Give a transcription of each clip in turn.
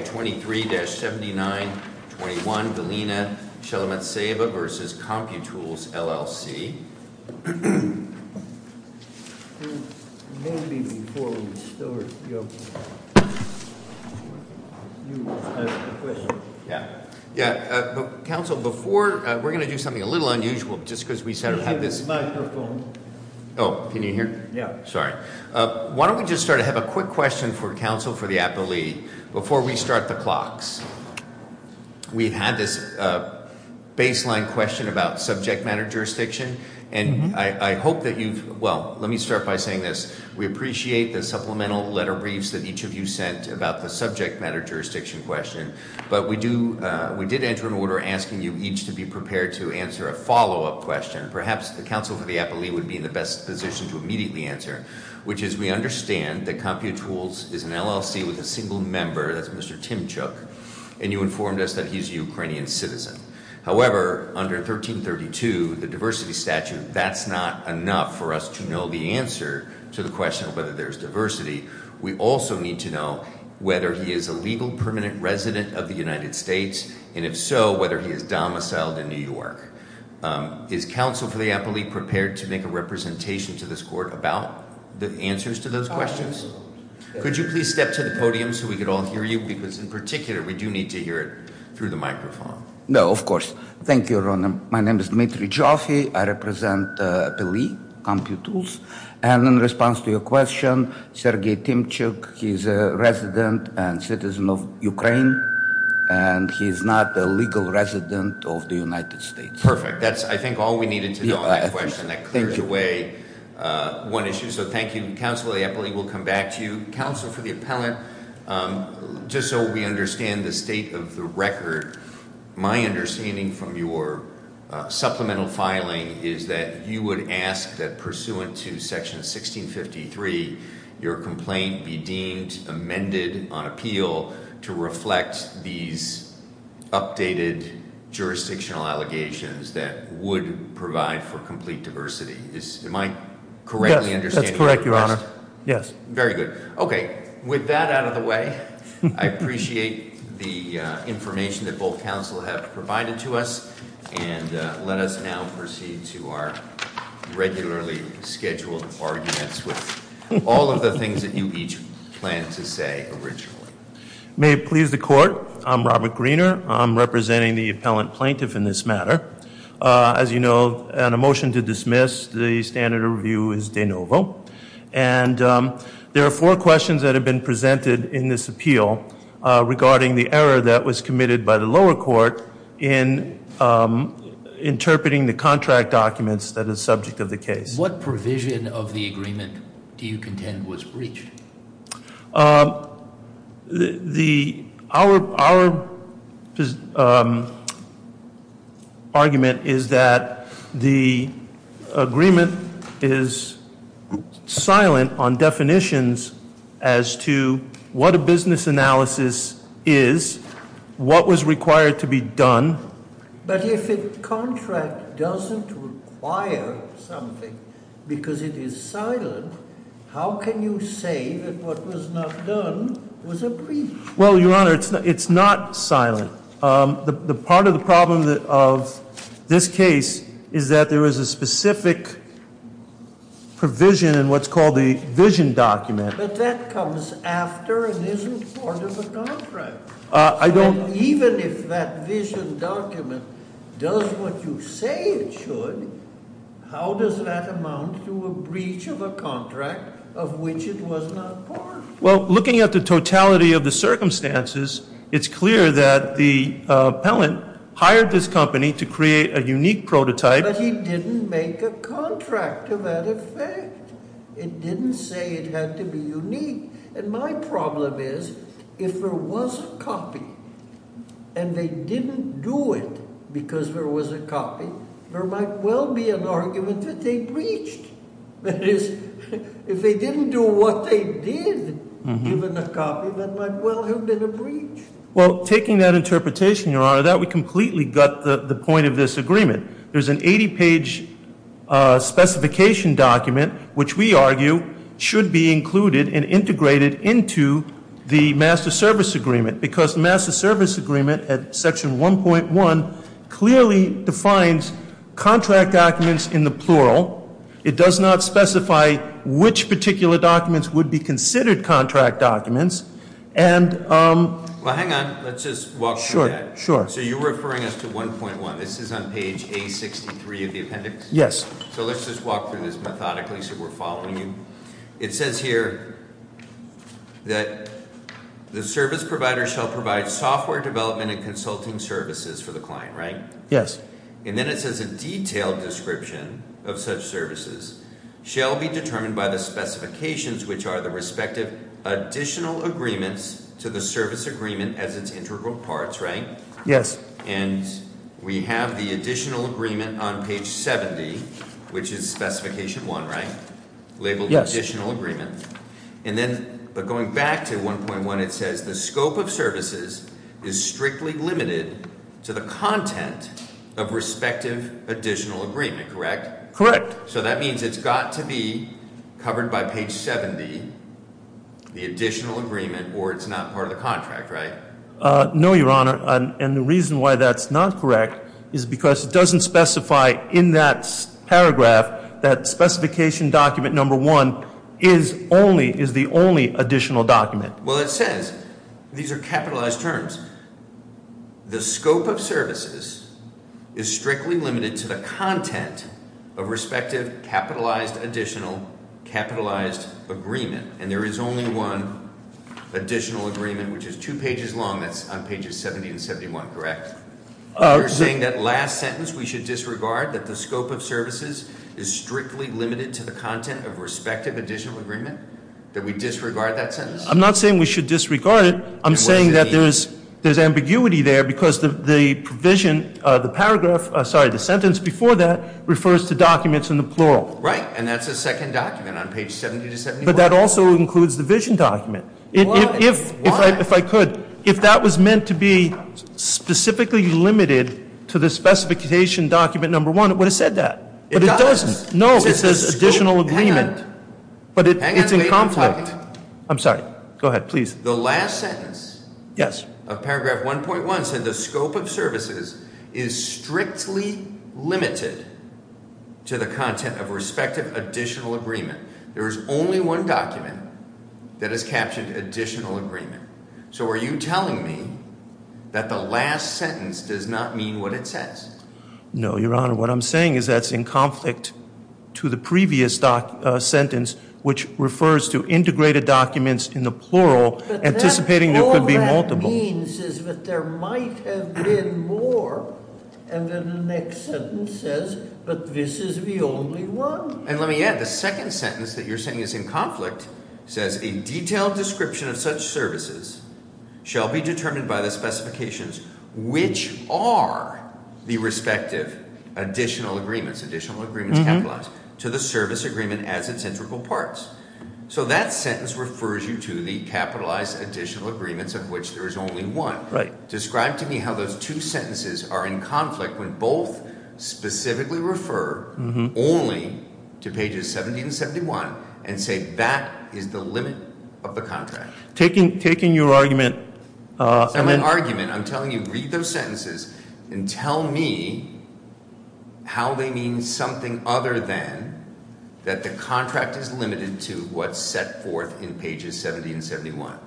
May 23-79-21 Galena Shelomentseva v. Computools, LLC Maybe before we start, you have a question. Council, before, we're going to do something a little unusual, just because we have this Can you hear? Sorry. Why don't we just start? I have a quick question for the Council, for the appellee. Before we start the clocks, we've had this baseline question about subject matter jurisdiction. And I hope that you've, well, let me start by saying this. We appreciate the supplemental letter briefs that each of you sent about the subject matter jurisdiction question. But we do, we did enter an order asking you each to be prepared to answer a follow-up question. Perhaps the Council for the appellee would be in the best position to immediately answer. Which is, we understand that Computools is an LLC with a single member, that's Mr. Tymchuk. And you informed us that he's a Ukrainian citizen. However, under 1332, the diversity statute, that's not enough for us to know the answer to the question of whether there's diversity. We also need to know whether he is a legal permanent resident of the United States. And if so, whether he is domiciled in New York. Is Council for the appellee prepared to make a representation to this court about the answers to those questions? Could you please step to the podium so we could all hear you? Because in particular, we do need to hear it through the microphone. No, of course. Thank you, Your Honor. My name is Dmitry Joffe. I represent the appellee, Computools. And in response to your question, Sergey Tymchuk, he's a resident and citizen of Ukraine. And he's not a legal resident of the United States. Perfect. That's, I think, all we needed to know on that question. That clears away one issue. So, thank you, Counsel. I believe we'll come back to you. Counsel, for the appellant, just so we understand the state of the record. My understanding from your supplemental filing is that you would ask that pursuant to Section 1653, your complaint be deemed amended on appeal to reflect these updated jurisdictional allegations that would provide for complete diversity. Am I correctly understanding that? Yes, that's correct, Your Honor. Yes. Very good. Okay. With that out of the way, I appreciate the information that both counsel have provided to us. And let us now proceed to our regularly scheduled arguments with all of the things that you each planned to say originally. May it please the Court. I'm Robert Greener. I'm representing the appellant plaintiff in this matter. As you know, on a motion to dismiss, the standard of review is de novo. And there are four questions that have been presented in this appeal regarding the error that was committed by the lower court in interpreting the contract documents that is subject of the case. What provision of the agreement do you contend was breached? Our argument is that the agreement is silent on definitions as to what a business analysis is, what was required to be done. But if a contract doesn't require something because it is silent, how can you say that what was not done was a breach? Well, Your Honor, it's not silent. The part of the problem of this case is that there is a specific provision in what's called the vision document. But that comes after and isn't part of a contract. I don't And even if that vision document does what you say it should, how does that amount to a breach of a contract of which it was not part? Well, looking at the totality of the circumstances, it's clear that the appellant hired this company to create a unique prototype. But he didn't make a contract to that effect. It didn't say it had to be unique. And my problem is if there was a copy and they didn't do it because there was a copy, there might well be an argument that they breached. That is, if they didn't do what they did, given the copy, that might well have been a breach. Well, taking that interpretation, Your Honor, that would completely gut the point of this agreement. There's an 80-page specification document, which we argue should be included and integrated into the master service agreement. Because the master service agreement at section 1.1 clearly defines contract documents in the plural. It does not specify which particular documents would be considered contract documents. Well, hang on. Let's just walk through that. So you're referring us to 1.1. This is on page A63 of the appendix? So let's just walk through this methodically so we're following you. It says here that the service provider shall provide software development and consulting services for the client, right? Yes. And then it says a detailed description of such services shall be determined by the specifications, which are the respective additional agreements to the service agreement as its integral parts, right? Yes. And we have the additional agreement on page 70, which is specification 1, right? Labeled additional agreement. And then going back to 1.1, it says the scope of services is strictly limited to the content of respective additional agreement, correct? Correct. So that means it's got to be covered by page 70, the additional agreement, or it's not part of the contract, right? No, Your Honor. And the reason why that's not correct is because it doesn't specify in that paragraph that specification document number 1 is the only additional document. Well, it says, these are capitalized terms, the scope of services is strictly limited to the content of respective capitalized additional capitalized agreement. And there is only one additional agreement, which is two pages long, that's on pages 70 and 71, correct? You're saying that last sentence, we should disregard that the scope of services is strictly limited to the content of respective additional agreement? That we disregard that sentence? I'm not saying we should disregard it. I'm saying that there's ambiguity there because the provision, the paragraph, sorry, the sentence before that refers to documents in the plural. Right, and that's a second document on page 70 to 71. But that also includes the vision document. If I could, if that was meant to be specifically limited to the specification document number 1, it would have said that. But it doesn't. No, it says additional agreement. But it's in conflict. I'm sorry. Go ahead, please. The last sentence. Yes. Of paragraph 1.1 said the scope of services is strictly limited to the content of respective additional agreement. There is only one document that has captioned additional agreement. So are you telling me that the last sentence does not mean what it says? No, Your Honor. What I'm saying is that's in conflict to the previous sentence, which refers to integrated documents in the plural, anticipating there could be multiple. But all that means is that there might have been more, and then the next sentence says, but this is the only one. And let me add, the second sentence that you're saying is in conflict says a detailed description of such services shall be determined by the specifications which are the respective additional agreements, additional agreements capitalized to the service agreement as its integral parts. So that sentence refers you to the capitalized additional agreements of which there is only one. Right. Describe to me how those two sentences are in conflict when both specifically refer only to pages 70 and 71 and say that is the limit of the contract. Taking your argument- It's not an argument. I'm telling you, read those sentences and tell me how they mean something other than that the contract is limited to what's set forth in pages 70 and 71.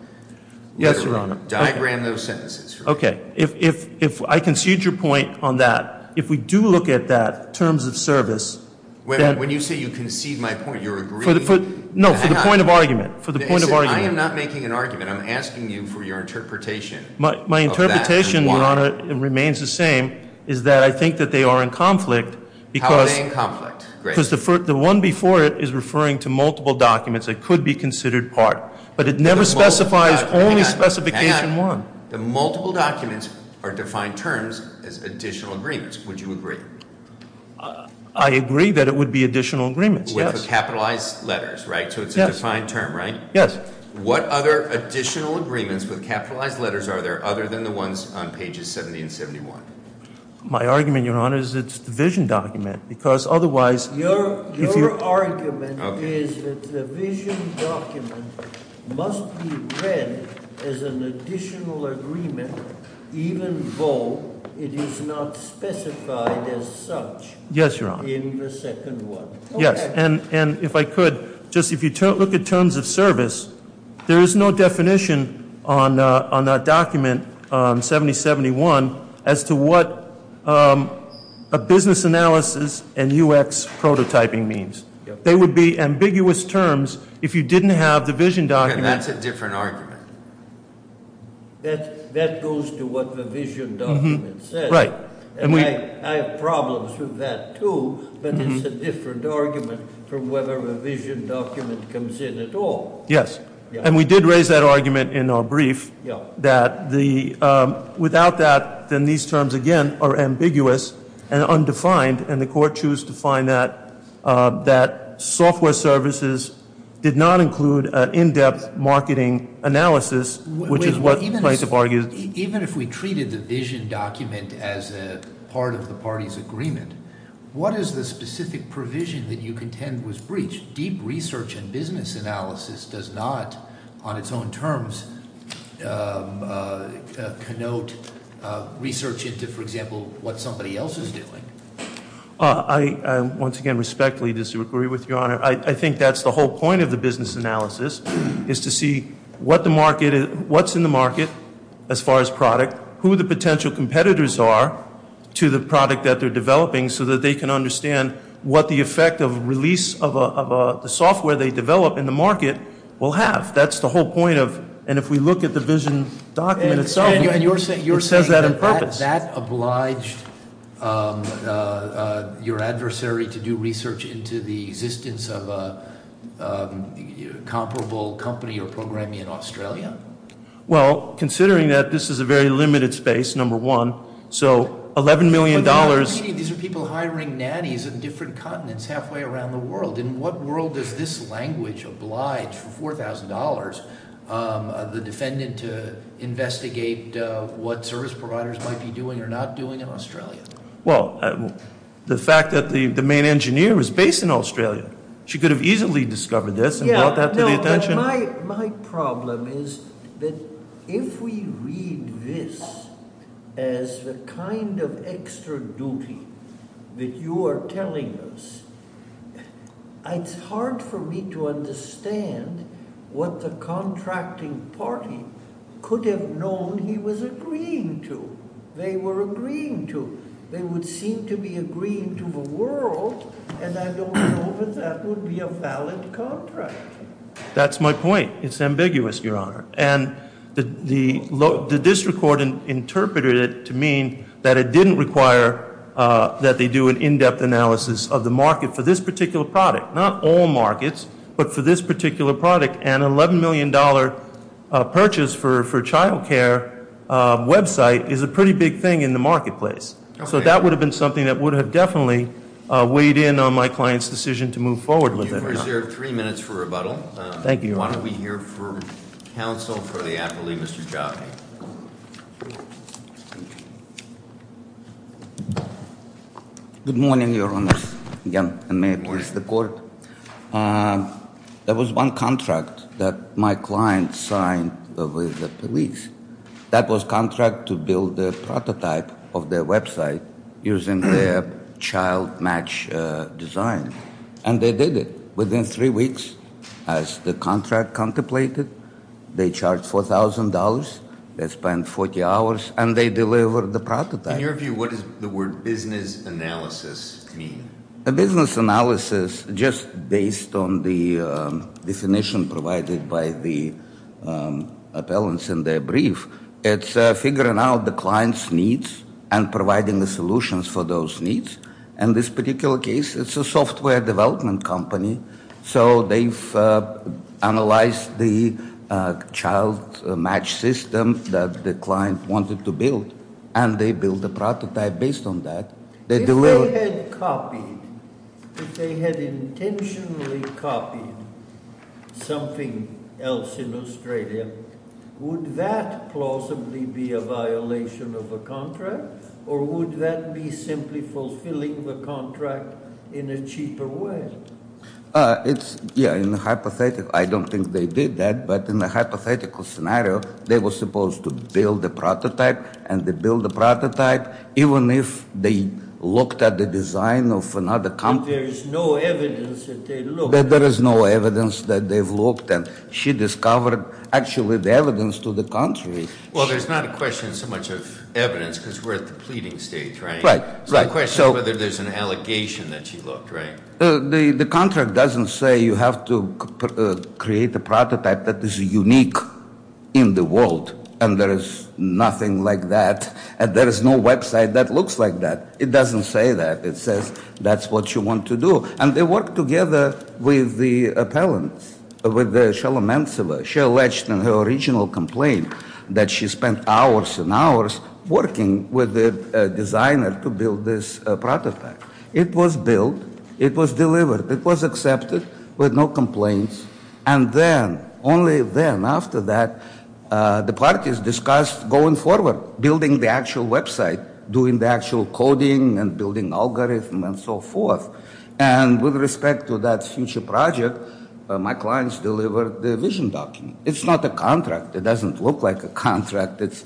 Yes, Your Honor. Diagram those sentences for me. If I concede your point on that, if we do look at that terms of service- When you say you concede my point, you're agreeing- No, for the point of argument. For the point of argument. I am not making an argument. I'm asking you for your interpretation. My interpretation, Your Honor, remains the same, is that I think that they are in conflict because- How are they in conflict? Great. Because the one before it is referring to multiple documents that could be considered part. But it never specifies only specification one. The multiple documents are defined terms as additional agreements. Would you agree? I agree that it would be additional agreements, yes. With the capitalized letters, right? So it's a defined term, right? Yes. What other additional agreements with capitalized letters are there other than the ones on pages 70 and 71? My argument, Your Honor, is it's a division document because otherwise- Your argument is that the division document must be read as an additional agreement even though it is not specified as such. Yes, Your Honor. In the second one. Yes. And if I could, just if you look at terms of service, there is no definition on that document, 7071, as to what a business analysis and UX prototyping means. They would be ambiguous terms if you didn't have the division document- That's a different argument. That goes to what the division document says. Right. And I have problems with that, too, but it's a different argument from whether a division document comes in at all. Yes. And we did raise that argument in our brief that without that, then these terms, again, are ambiguous and undefined, and the court chose to find that software services did not include an in-depth marketing analysis, which is what the plaintiff argues. But even if we treated the vision document as a part of the party's agreement, what is the specific provision that you contend was breached? Deep research and business analysis does not, on its own terms, connote research into, for example, what somebody else is doing. I, once again, respectfully disagree with you, Your Honor. I think that's the whole point of the business analysis, is to see what's in the market as far as product, who the potential competitors are to the product that they're developing, so that they can understand what the effect of release of the software they develop in the market will have. That's the whole point of, and if we look at the vision document itself, it says that in purpose. Has that obliged your adversary to do research into the existence of a comparable company or programming in Australia? Well, considering that this is a very limited space, number one, so $11 million- But you're saying these are people hiring nannies in different continents, halfway around the world. In what world does this language oblige for $4,000 the defendant to investigate what service providers might be doing or not doing in Australia? Well, the fact that the main engineer was based in Australia, she could have easily discovered this and brought that to the attention. Yeah, no, my problem is that if we read this as the kind of extra duty that you are telling us, it's hard for me to understand what the contracting party could have known he was agreeing to. They were agreeing to. They would seem to be agreeing to the world, and I don't know that that would be a valid contract. That's my point. It's ambiguous, your honor. And the district court interpreted it to mean that it didn't require that they do an in-depth analysis of the market for this particular product. Not all markets, but for this particular product. And an $11 million purchase for child care website is a pretty big thing in the marketplace. So that would have been something that would have definitely weighed in on my client's decision to move forward with it. You've reserved three minutes for rebuttal. Thank you, your honor. Why don't we hear from counsel for the appellee, Mr. Jaffee. Good morning, your honors. Again, I may please the court. There was one contract that my client signed with the police. That was contract to build a prototype of their website using their child match design. And they did it. Within three weeks, as the contract contemplated, they charged $4,000. They spent 40 hours, and they delivered the prototype. In your view, what does the word business analysis mean? A business analysis, just based on the definition provided by the appellants in their brief. It's figuring out the client's needs and providing the solutions for those needs. In this particular case, it's a software development company. So they've analyzed the child match system that the client wanted to build. And they built a prototype based on that. If they had copied, if they had intentionally copied something else in Australia, would that plausibly be a violation of the contract? Or would that be simply fulfilling the contract in a cheaper way? It's, yeah, in a hypothetical. I don't think they did that. But in a hypothetical scenario, they were supposed to build the prototype. And they built the prototype, even if they looked at the design of another company. There is no evidence that they looked. There is no evidence that they've looked. And she discovered, actually, the evidence to the contrary. Well, there's not a question so much of evidence, because we're at the pleading stage, right? Right, right. So the question is whether there's an allegation that she looked, right? The contract doesn't say you have to create a prototype that is unique in the world. And there is nothing like that. And there is no website that looks like that. It doesn't say that. It says that's what you want to do. And they worked together with the appellants, with Sheila Mansilla. She alleged in her original complaint that she spent hours and hours working with the designer to build this prototype. It was built. It was delivered. It was accepted with no complaints. And then, only then, after that, the parties discussed going forward, building the actual website, doing the actual coding, and building algorithm, and so forth. And with respect to that future project, my clients delivered the vision document. It's not a contract. It doesn't look like a contract. It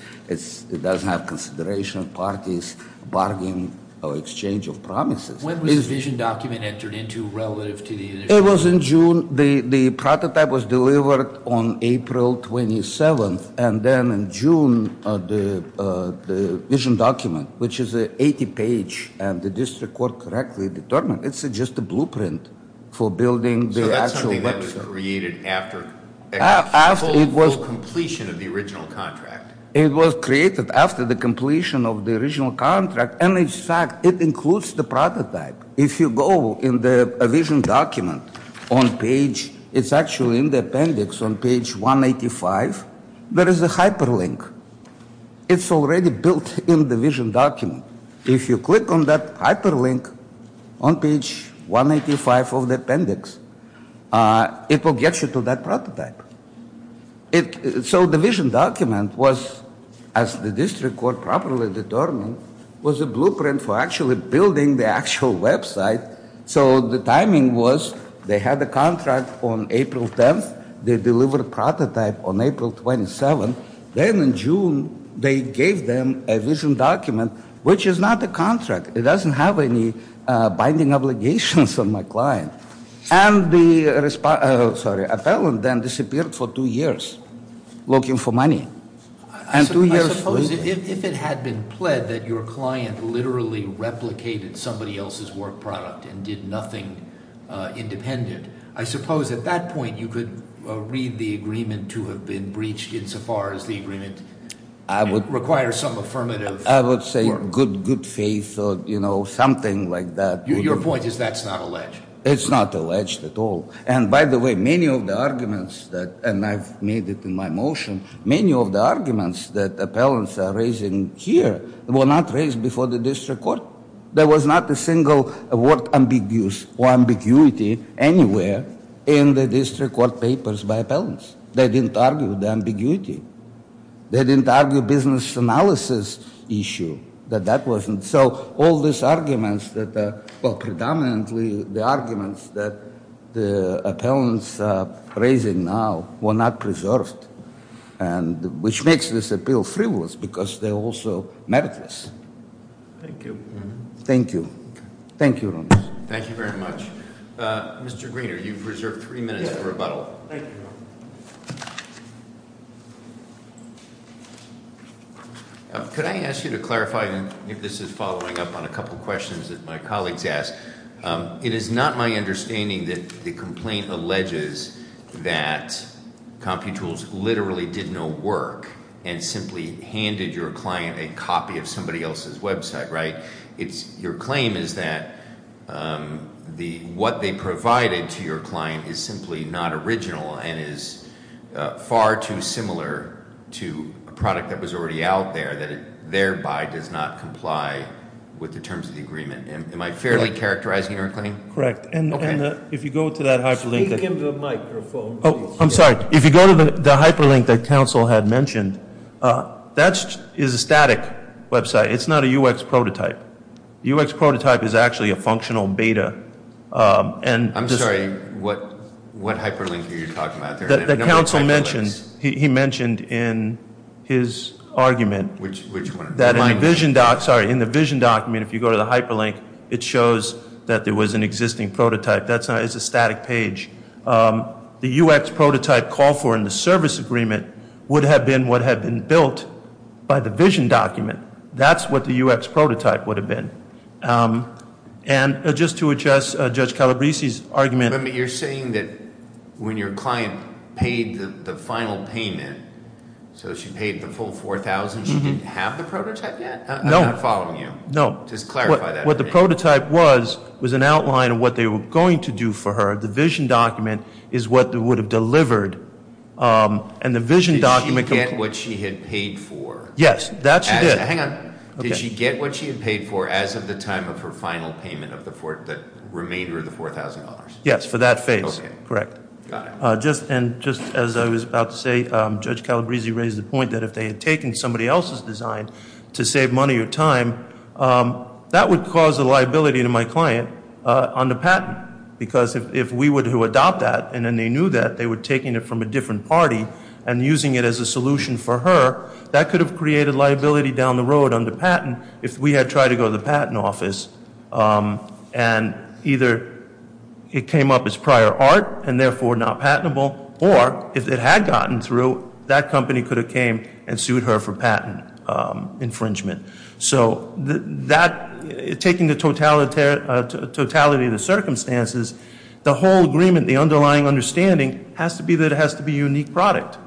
doesn't have consideration, parties, bargaining, or exchange of promises. When was the vision document entered into relative to the initial? It was in June. The prototype was delivered on April 27th. And then in June, the vision document, which is an 80 page, and the district court correctly determined. It's just a blueprint for building the actual website. So that's something that was created after the full completion of the original contract? It was created after the completion of the original contract. And in fact, it includes the prototype. If you go in the vision document on page, it's actually in the appendix on page 185. There is a hyperlink. It's already built in the vision document. If you click on that hyperlink on page 185 of the appendix, it will get you to that prototype. So the vision document was, as the district court properly determined, was a blueprint for actually building the actual website. So the timing was, they had the contract on April 10th, they delivered prototype on April 27th. Then in June, they gave them a vision document, which is not a contract. It doesn't have any binding obligations on my client. And the, sorry, appellant then disappeared for two years looking for money. And two years later- I suppose if it had been pled that your client literally replicated somebody else's work product and did nothing independent, I suppose at that point you could read the agreement to have been breached insofar as the agreement- I would- Requires some affirmative- I would say good faith or something like that. Your point is that's not alleged? It's not alleged at all. And by the way, many of the arguments that, and I've made it in my motion, many of the arguments that appellants are raising here were not raised before the district court. There was not a single word ambiguous or ambiguity anywhere in the district court papers by appellants. They didn't argue the ambiguity. They didn't argue business analysis issue, that that wasn't. And so all these arguments that, well, predominantly the arguments that the appellants are raising now were not preserved. And which makes this appeal frivolous because they're also meritless. Thank you. Thank you. Thank you, Ronis. Thank you very much. Mr. Greener, you've reserved three minutes for rebuttal. Thank you. Could I ask you to clarify if this is following up on a couple of questions that my colleagues asked? It is not my understanding that the complaint alleges that CompuTools literally did no work and simply handed your client a copy of somebody else's website, right? Your claim is that what they provided to your client is simply not original and is far too similar to a product that was already out there that it thereby does not comply with the terms of the agreement, and am I fairly characterizing your claim? Correct, and if you go to that hyperlink- Speak into the microphone. I'm sorry. If you go to the hyperlink that council had mentioned, that is a static website. It's not a UX prototype. UX prototype is actually a functional beta. And- I'm sorry, what hyperlink are you talking about there? The council mentioned, he mentioned in his argument- Which one? That in my vision doc, sorry, in the vision document, if you go to the hyperlink, it shows that there was an existing prototype. That's not, it's a static page. The UX prototype called for in the service agreement would have been what had been built by the vision document. That's what the UX prototype would have been. And just to adjust Judge Calabrese's argument- But you're saying that when your client paid the final payment, so she paid the full 4,000, she didn't have the prototype yet? I'm not following you. No. Just clarify that for me. What the prototype was, was an outline of what they were going to do for her. The vision document is what they would have delivered, and the vision document- Did she get what she had paid for? Yes, that she did. Hang on. Did she get what she had paid for as of the time of her final payment of the remainder of the $4,000? Yes, for that phase. Correct. Just as I was about to say, Judge Calabrese raised the point that if they had taken somebody else's design to save money or time, that would cause a liability to my client on the patent. Because if we were to adopt that, and then they knew that, they were taking it from a different party and using it as a solution for her, that could have created liability down the road on the patent if we had tried to go to the patent office. And either it came up as prior art, and therefore not patentable, or if it had gotten through, that company could have came and sued her for patent infringement. So taking the totality of the circumstances, the whole agreement, the underlying understanding has to be that it has to be a unique product.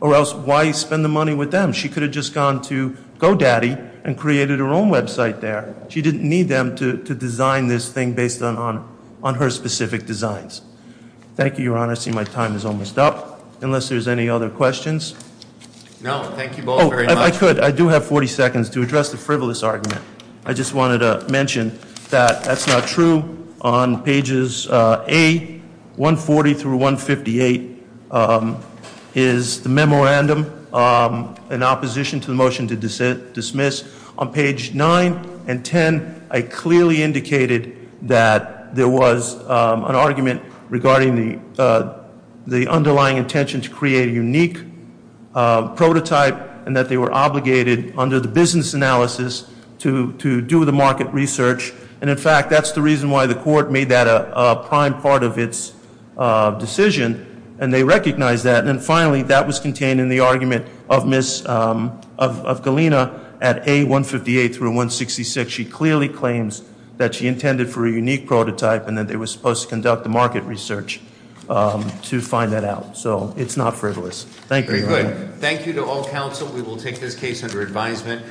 Or else, why spend the money with them? She could have just gone to GoDaddy and created her own website there. She didn't need them to design this thing based on her specific designs. Thank you, Your Honor. I see my time is almost up, unless there's any other questions. No, thank you both very much. I could. I do have 40 seconds to address the frivolous argument. I just wanted to mention that that's not true on pages A, 140 through 158 is the memorandum in opposition to the motion to dismiss. On page 9 and 10, I clearly indicated that there was an argument regarding the underlying intention to create a unique prototype and that they were obligated under the business analysis to do the market research. And in fact, that's the reason why the court made that a prime part of its decision, and they recognized that. And then finally, that was contained in the argument of Galina at A158 through 166. She clearly claims that she intended for a unique prototype and that they were supposed to conduct the market research to find that out. So it's not frivolous. Thank you, Your Honor. Thank you to all counsel. We will take this case under advisement.